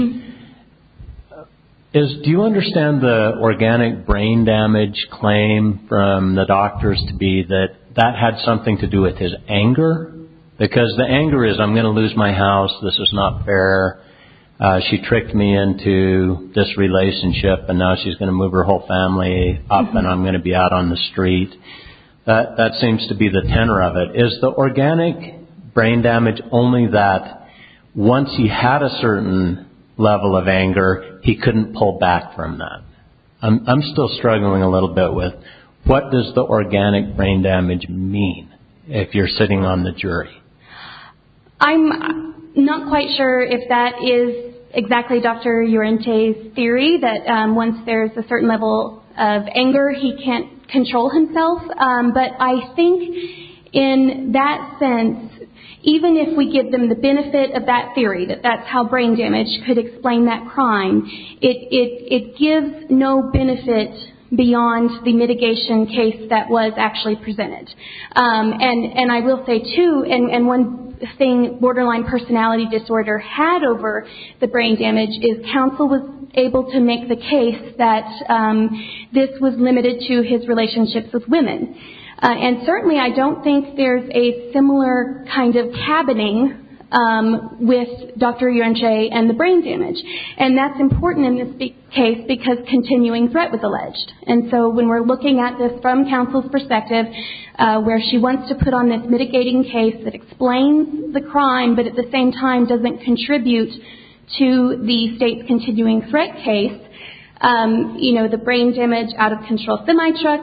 Do you understand the organic brain damage claim from the doctors to be that that had something to do with his anger? Because the anger is I'm going to lose my house, this is not fair, she tricked me into this relationship and now she's going to move her whole family up and I'm going to be out on the street. That seems to be the tenor of it. Is the organic brain damage only that once he had a certain level of anger, he couldn't pull back from that? I'm still struggling a little bit with what does the organic brain damage mean if you're sitting on the jury? I'm not quite sure if that is exactly Dr. Uriente's theory that once there's a certain level of anger, he can't control himself. But I think in that sense, even if we give them the benefit of that theory, that that's how brain damage could explain that crime, it gives no benefit beyond the mitigation case that was actually presented. And I will say too, and one thing borderline personality disorder had over the brain damage is counsel was able to make the case that this was limited to his relationships with women. And certainly I don't think there's a similar kind of cabining with Dr. Uriente and the brain damage. And that's important in this case because continuing threat was alleged. And so when we're looking at this from counsel's perspective, where she wants to put on this mitigating case that explains the crime, but at the same time doesn't contribute to the state's continuing threat case, you know, the brain damage out-of-control semi-truck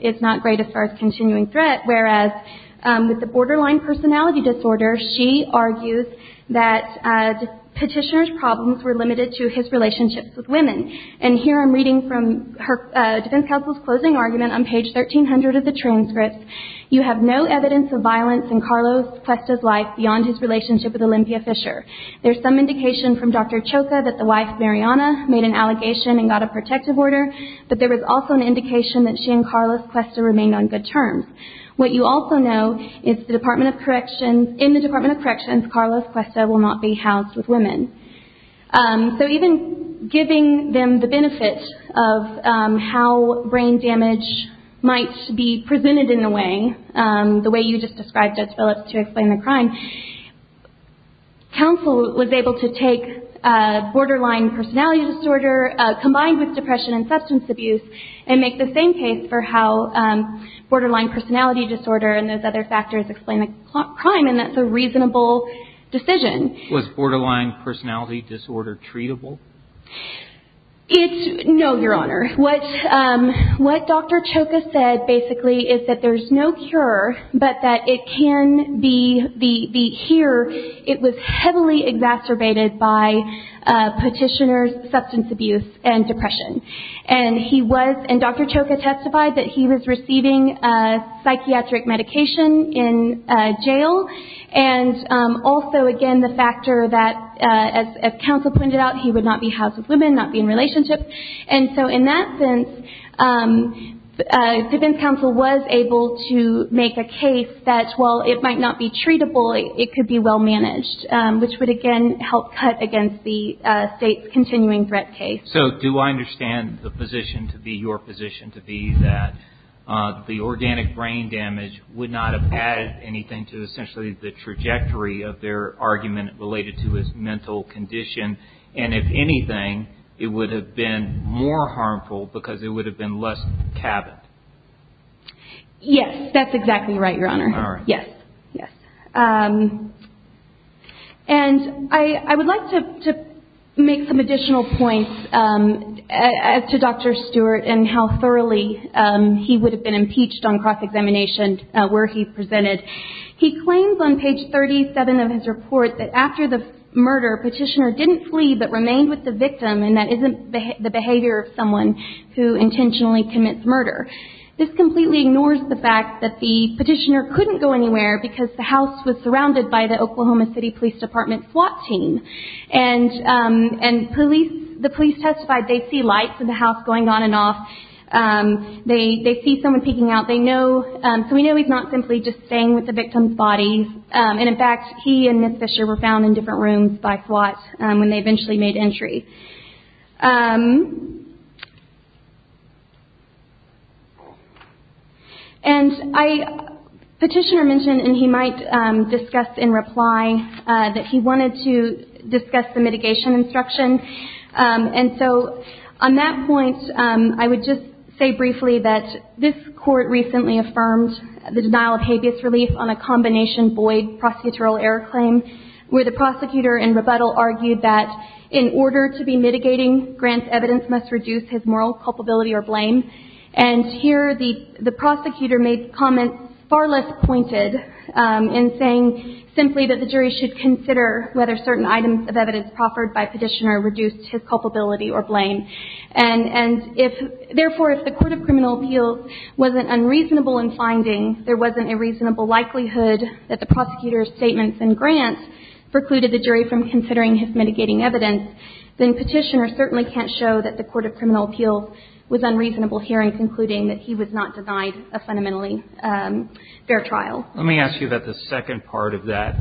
is not great as far as continuing threat, whereas with the borderline personality disorder, she argues that petitioner's problems were limited to his relationships with women. And here I'm reading from Defense Counsel's closing argument on page 1300 of the transcript. You have no evidence of violence in Carlos Cuesta's life beyond his relationship with Olympia Fisher. There's some indication from Dr. Choka that the wife, Mariana, made an allegation and got a protective order, but there was also an indication that she and Carlos Cuesta remained on good terms. What you also know is in the Department of Corrections, Carlos Cuesta will not be housed with women. So even giving them the benefit of how brain damage might be presented in a way, the way you just described, Judge Phillips, to explain the crime, counsel was able to take borderline personality disorder combined with depression and substance abuse and make the same case for how borderline personality disorder and those other factors explain the crime, and that's a reasonable decision. Was borderline personality disorder treatable? No, Your Honor. What Dr. Choka said basically is that there's no cure, but that it can be here. It was heavily exacerbated by petitioner's substance abuse and depression. And Dr. Choka testified that he was receiving psychiatric medication in jail, and also, again, the factor that, as counsel pointed out, he would not be housed with women, not be in relationships. And so in that sense, Pippin's counsel was able to make a case that while it might not be treatable, it could be well managed, which would, again, help cut against the state's continuing threat case. So do I understand the position to be, your position to be, that the organic brain damage would not have added anything to, essentially, the trajectory of their argument related to his mental condition, and if anything, it would have been more harmful because it would have been less cabined? Yes, that's exactly right, Your Honor. All right. Yes, yes. And I would like to make some additional points as to Dr. Stewart and how thoroughly he would have been impeached on cross-examination where he presented. He claims on page 37 of his report that after the murder, petitioner didn't flee but remained with the victim, and that isn't the behavior of someone who intentionally commits murder. This completely ignores the fact that the petitioner couldn't go anywhere because the house was surrounded by the Oklahoma City Police Department SWAT team, and the police testified they see lights in the house going on and off. They see someone peeking out. So we know he's not simply just staying with the victim's body, and, in fact, he and Ms. Fisher were found in different rooms by SWAT when they eventually made entry. And I, petitioner mentioned, and he might discuss in reply, that he wanted to discuss the mitigation instruction, and so on that point I would just say briefly that this court recently affirmed the denial of habeas relief on a combination Boyd prosecutorial error claim where the prosecutor in rebuttal argued that in order to be mitigating, Grant's evidence must reduce his moral culpability or blame, and here the prosecutor made comments far less pointed in saying simply that the jury should consider whether certain items of evidence proffered by petitioner reduced his culpability or blame. And, therefore, if the Court of Criminal Appeals wasn't unreasonable in finding there wasn't a reasonable likelihood that the prosecutor's statements and Grant's precluded the jury from considering his mitigating evidence, then petitioner certainly can't show that the Court of Criminal Appeals was unreasonable here in concluding that he was not denied a fundamentally fair trial. Let me ask you about the second part of that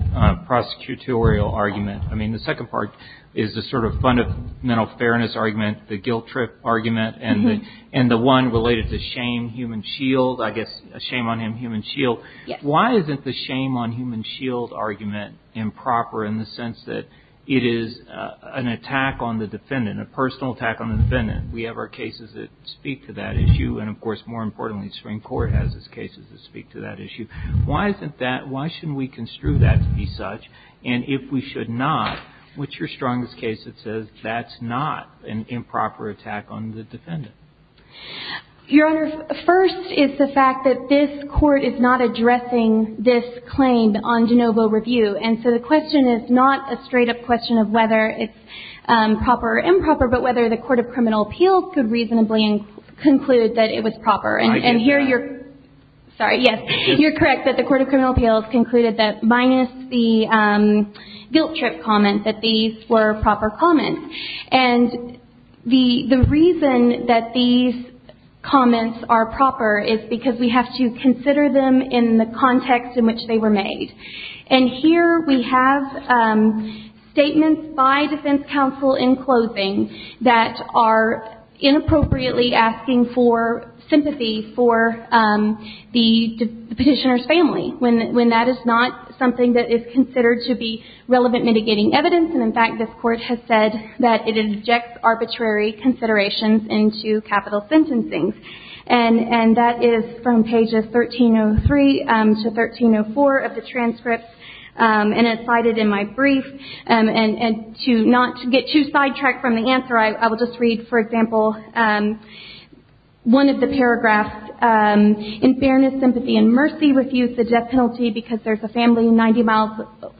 prosecutorial argument. I mean, the second part is the sort of fundamental fairness argument, the guilt trip argument, and the one related to shame, human shield, I guess, shame on him, human shield. Yes. Why isn't the shame on human shield argument improper in the sense that it is an attack on the defendant, a personal attack on the defendant? We have our cases that speak to that issue, and, of course, more importantly, the Supreme Court has its cases that speak to that issue. Why isn't that? Why shouldn't we construe that to be such? And if we should not, what's your strongest case that says that's not an improper attack on the defendant? Your Honor, first is the fact that this Court is not addressing this claim on de novo review. And so the question is not a straight-up question of whether it's proper or improper, but whether the Court of Criminal Appeals could reasonably conclude that it was proper. And here you're – sorry, yes. You're correct that the Court of Criminal Appeals concluded that, minus the guilt trip comment, that these were proper comments. And the reason that these comments are proper is because we have to consider them in the context in which they were made. And here we have statements by defense counsel in closing that are inappropriately asking for sympathy for the petitioner's family, when that is not something that is considered to be relevant mitigating evidence. And, in fact, this Court has said that it injects arbitrary considerations into capital sentencing. And that is from pages 1303 to 1304 of the transcripts. And it's cited in my brief. And to not get too sidetracked from the answer, I will just read, for example, one of the paragraphs. In fairness, sympathy, and mercy, refuse the death penalty because there's a family 90 miles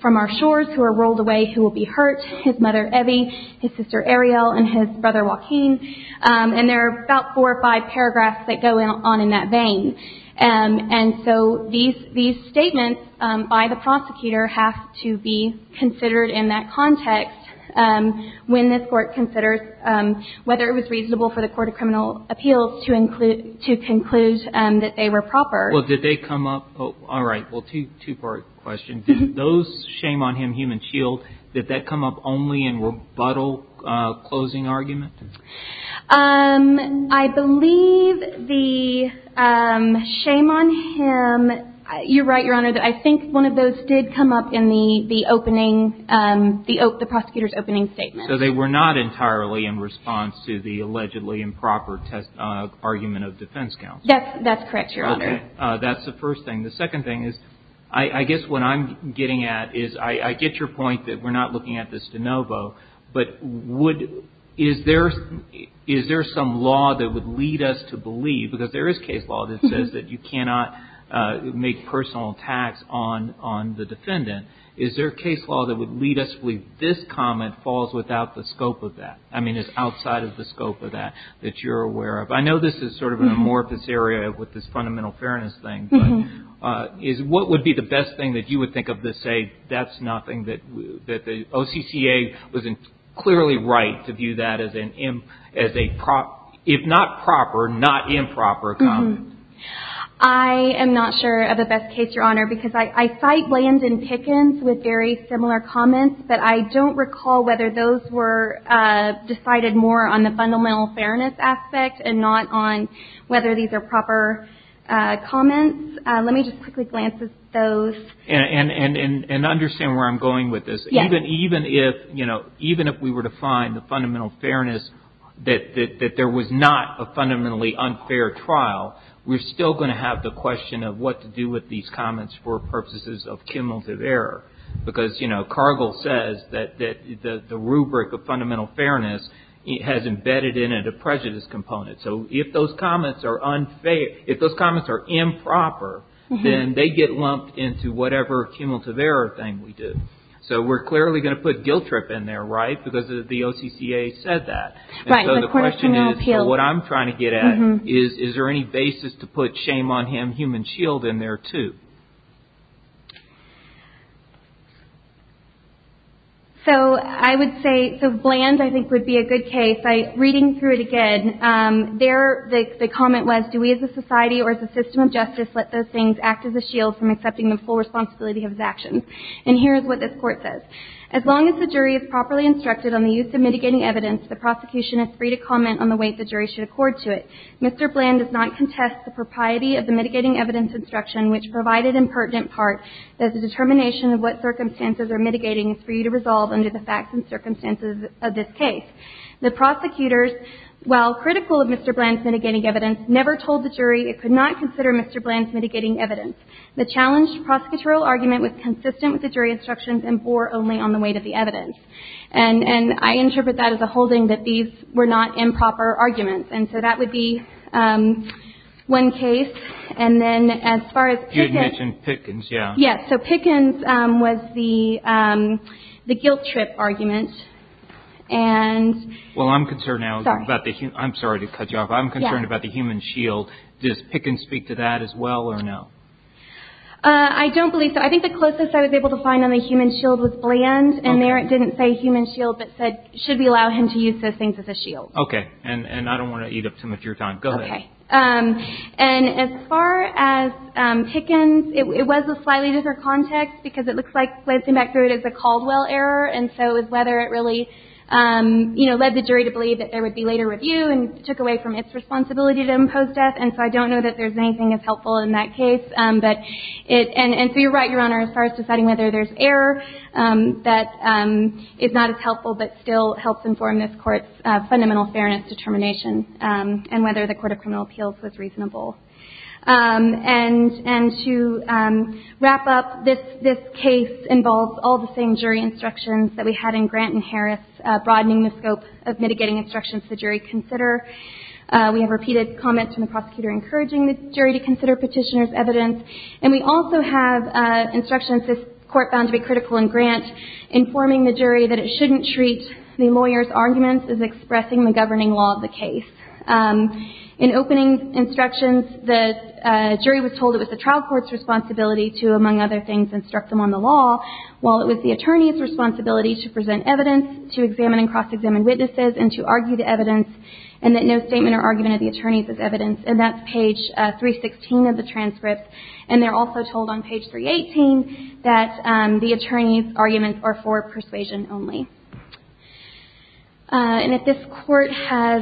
from our shores who are rolled away who will be hurt, his mother, Evie, his sister, Ariel, and his brother, Joaquin. And there are about four or five paragraphs that go on in that vein. And so these statements by the prosecutor have to be considered in that context when this Court considers whether it was reasonable for the Court of Criminal Appeals to conclude that they were proper. Well, did they come up? All right. Well, two-part question. Did those, shame on him, human shield, did that come up only in rebuttal closing argument? I believe the shame on him, you're right, Your Honor, that I think one of those did come up in the opening, the prosecutor's opening statement. So they were not entirely in response to the allegedly improper argument of defense counsel? That's correct, Your Honor. Okay. That's the first thing. The second thing is, I guess what I'm getting at is I get your point that we're not looking at this de novo, but is there some law that would lead us to believe, because there is case law that says that you cannot make personal attacks on the defendant, is there case law that would lead us to believe this comment falls without the scope of that? I mean, it's outside of the scope of that, that you're aware of. I know this is sort of an amorphous area with this fundamental fairness thing, but what would be the best thing that you would think of to say that's nothing, that the OCCA was clearly right to view that as a, if not proper, not improper comment? I am not sure of the best case, Your Honor, because I cite Landon Pickens with very similar comments, but I don't recall whether those were decided more on the fundamental fairness aspect and not on whether these are proper comments. Let me just quickly glance at those. And understand where I'm going with this. Yes. Even if we were to find the fundamental fairness that there was not a fundamentally unfair trial, we're still going to have the question of what to do with these comments for purposes of cumulative error. Because Cargill says that the rubric of fundamental fairness has embedded in it a prejudice component. So if those comments are improper, then they get lumped into whatever cumulative error thing we do. So we're clearly going to put guilt trip in there, right? Because the OCCA said that. So the question is, what I'm trying to get at is, is there any basis to put shame on him human shield in there, too? So I would say, so bland I think would be a good case. Reading through it again, there the comment was, do we as a society or as a system of justice let those things act as a shield from accepting the full responsibility of his actions? And here is what this Court says. As long as the jury is properly instructed on the use of mitigating evidence, the prosecution is free to comment on the weight the jury should accord to it. Mr. Bland does not contest the propriety of the mitigating evidence instruction, which provided in pertinent part that the determination of what circumstances are mitigating is free to resolve under the facts and circumstances of this case. The prosecutors, while critical of Mr. Bland's mitigating evidence, never told the jury it could not consider Mr. Bland's mitigating evidence. The challenged prosecutorial argument was consistent with the jury instructions and bore only on the weight of the evidence. And I interpret that as a holding that these were not improper arguments. And so that would be one case. And then as far as Pickens. You had mentioned Pickens, yeah. Yes. So Pickens was the guilt trip argument. Well, I'm concerned now. Sorry. I'm sorry to cut you off. I'm concerned about the human shield. Does Pickens speak to that as well or no? I don't believe so. I think the closest I was able to find on the human shield was Bland. And there it didn't say human shield but said should we allow him to use those things as a shield. Okay. And I don't want to eat up too much of your time. Go ahead. Okay. And as far as Pickens, it was a slightly different context because it looks like glancing back through it is a Caldwell error. And so it was whether it really, you know, led the jury to believe that there would be later review and took away from its responsibility to impose death. And so I don't know that there's anything as helpful in that case. And so you're right, Your Honor, as far as deciding whether there's error that is not as helpful but still helps inform this court's fundamental fairness determination and whether the Court of Criminal Appeals was reasonable. And to wrap up, this case involves all the same jury instructions that we had in Grant and Harris, broadening the scope of mitigating instructions the jury consider. We have repeated comments from the prosecutor encouraging the jury to consider petitioner's evidence. And we also have instructions this court found to be critical in Grant informing the jury that it shouldn't treat the lawyer's arguments as expressing the governing law of the case. In opening instructions, the jury was told it was the trial court's responsibility to, among other things, instruct them on the law, while it was the attorney's responsibility to present evidence, and that no statement or argument of the attorney's is evidence. And that's page 316 of the transcript. And they're also told on page 318 that the attorney's arguments are for persuasion only. And if this court has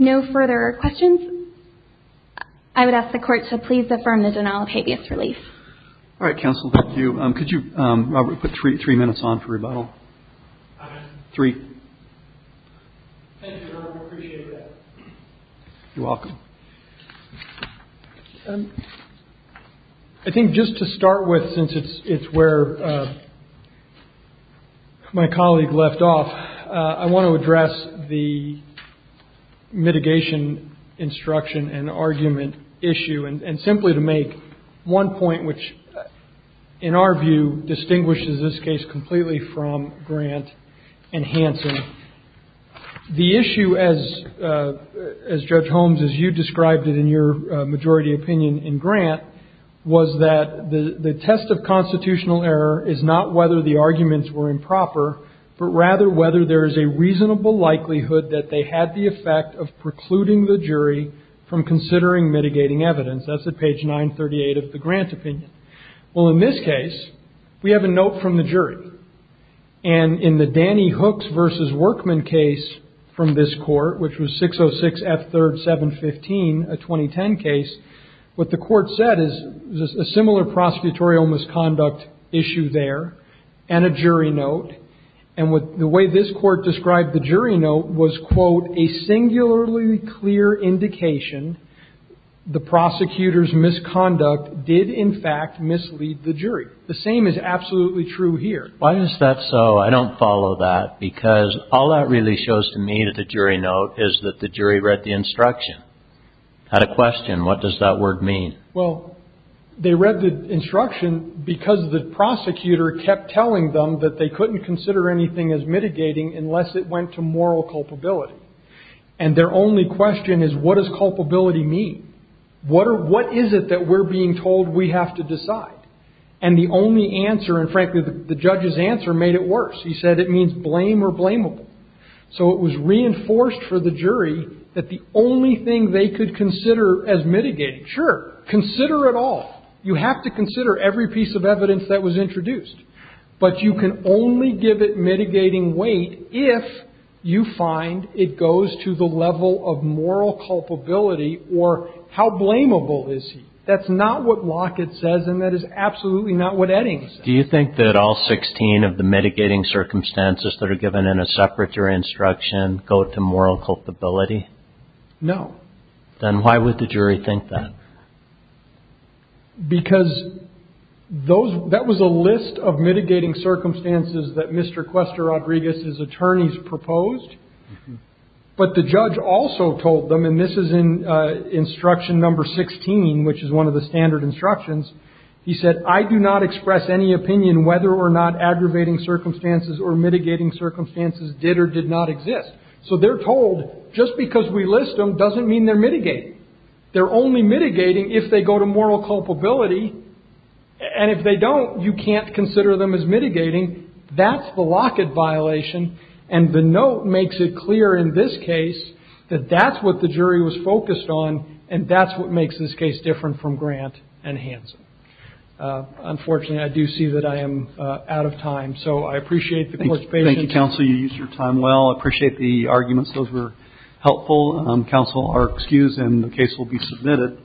no further questions, I would ask the Court to please affirm the denial of habeas relief. All right, counsel. Thank you. Could you, Robert, put three minutes on for rebuttal? Three. Thank you, Robert. I appreciate that. You're welcome. I think just to start with, since it's where my colleague left off, I want to address the mitigation instruction and argument issue, and simply to make one point which, in our view, distinguishes this case completely from Grant and Hansen. The issue, as Judge Holmes, as you described it in your majority opinion in Grant, was that the test of constitutional error is not whether the arguments were improper, but rather whether there is a reasonable likelihood that they had the effect of precluding the jury from considering mitigating evidence. That's at page 938 of the Grant opinion. Well, in this case, we have a note from the jury. And in the Danny Hooks v. Workman case from this court, which was 606 F. 3rd, 715, a 2010 case, what the court said is a similar prosecutorial misconduct issue there and a jury note. And the way this court described the jury note was, quote, a singularly clear indication the prosecutor's misconduct did, in fact, mislead the jury. The same is absolutely true here. Why is that so? I don't follow that, because all that really shows to me that the jury note is that the jury read the instruction, had a question. What does that word mean? Well, they read the instruction because the prosecutor kept telling them that they couldn't consider anything as mitigating unless it went to moral culpability. And their only question is, what does culpability mean? What is it that we're being told we have to decide? And the only answer, and frankly, the judge's answer made it worse. He said it means blame or blamable. So it was reinforced for the jury that the only thing they could consider as mitigating, sure, consider it all. You have to consider every piece of evidence that was introduced. But you can only give it mitigating weight if you find it goes to the level of moral culpability or how blamable is he. That's not what Lockett says, and that is absolutely not what Eddings says. Do you think that all 16 of the mitigating circumstances that are given in a separate jury instruction go to moral culpability? No. Then why would the jury think that? Because that was a list of mitigating circumstances that Mr. Cuesta-Rodriguez's attorneys proposed, but the judge also told them, and this is in instruction number 16, which is one of the standard instructions, he said, I do not express any opinion whether or not aggravating circumstances or mitigating circumstances did or did not exist. So they're told just because we list them doesn't mean they're mitigating. They're only mitigating if they go to moral culpability. And if they don't, you can't consider them as mitigating. That's the Lockett violation. And the note makes it clear in this case that that's what the jury was focused on, and that's what makes this case different from Grant and Hanson. Unfortunately, I do see that I am out of time. So I appreciate the court's patience. Thank you, counsel. You used your time well. I appreciate the arguments. Those were helpful. Counsel are excused, and the case will be submitted.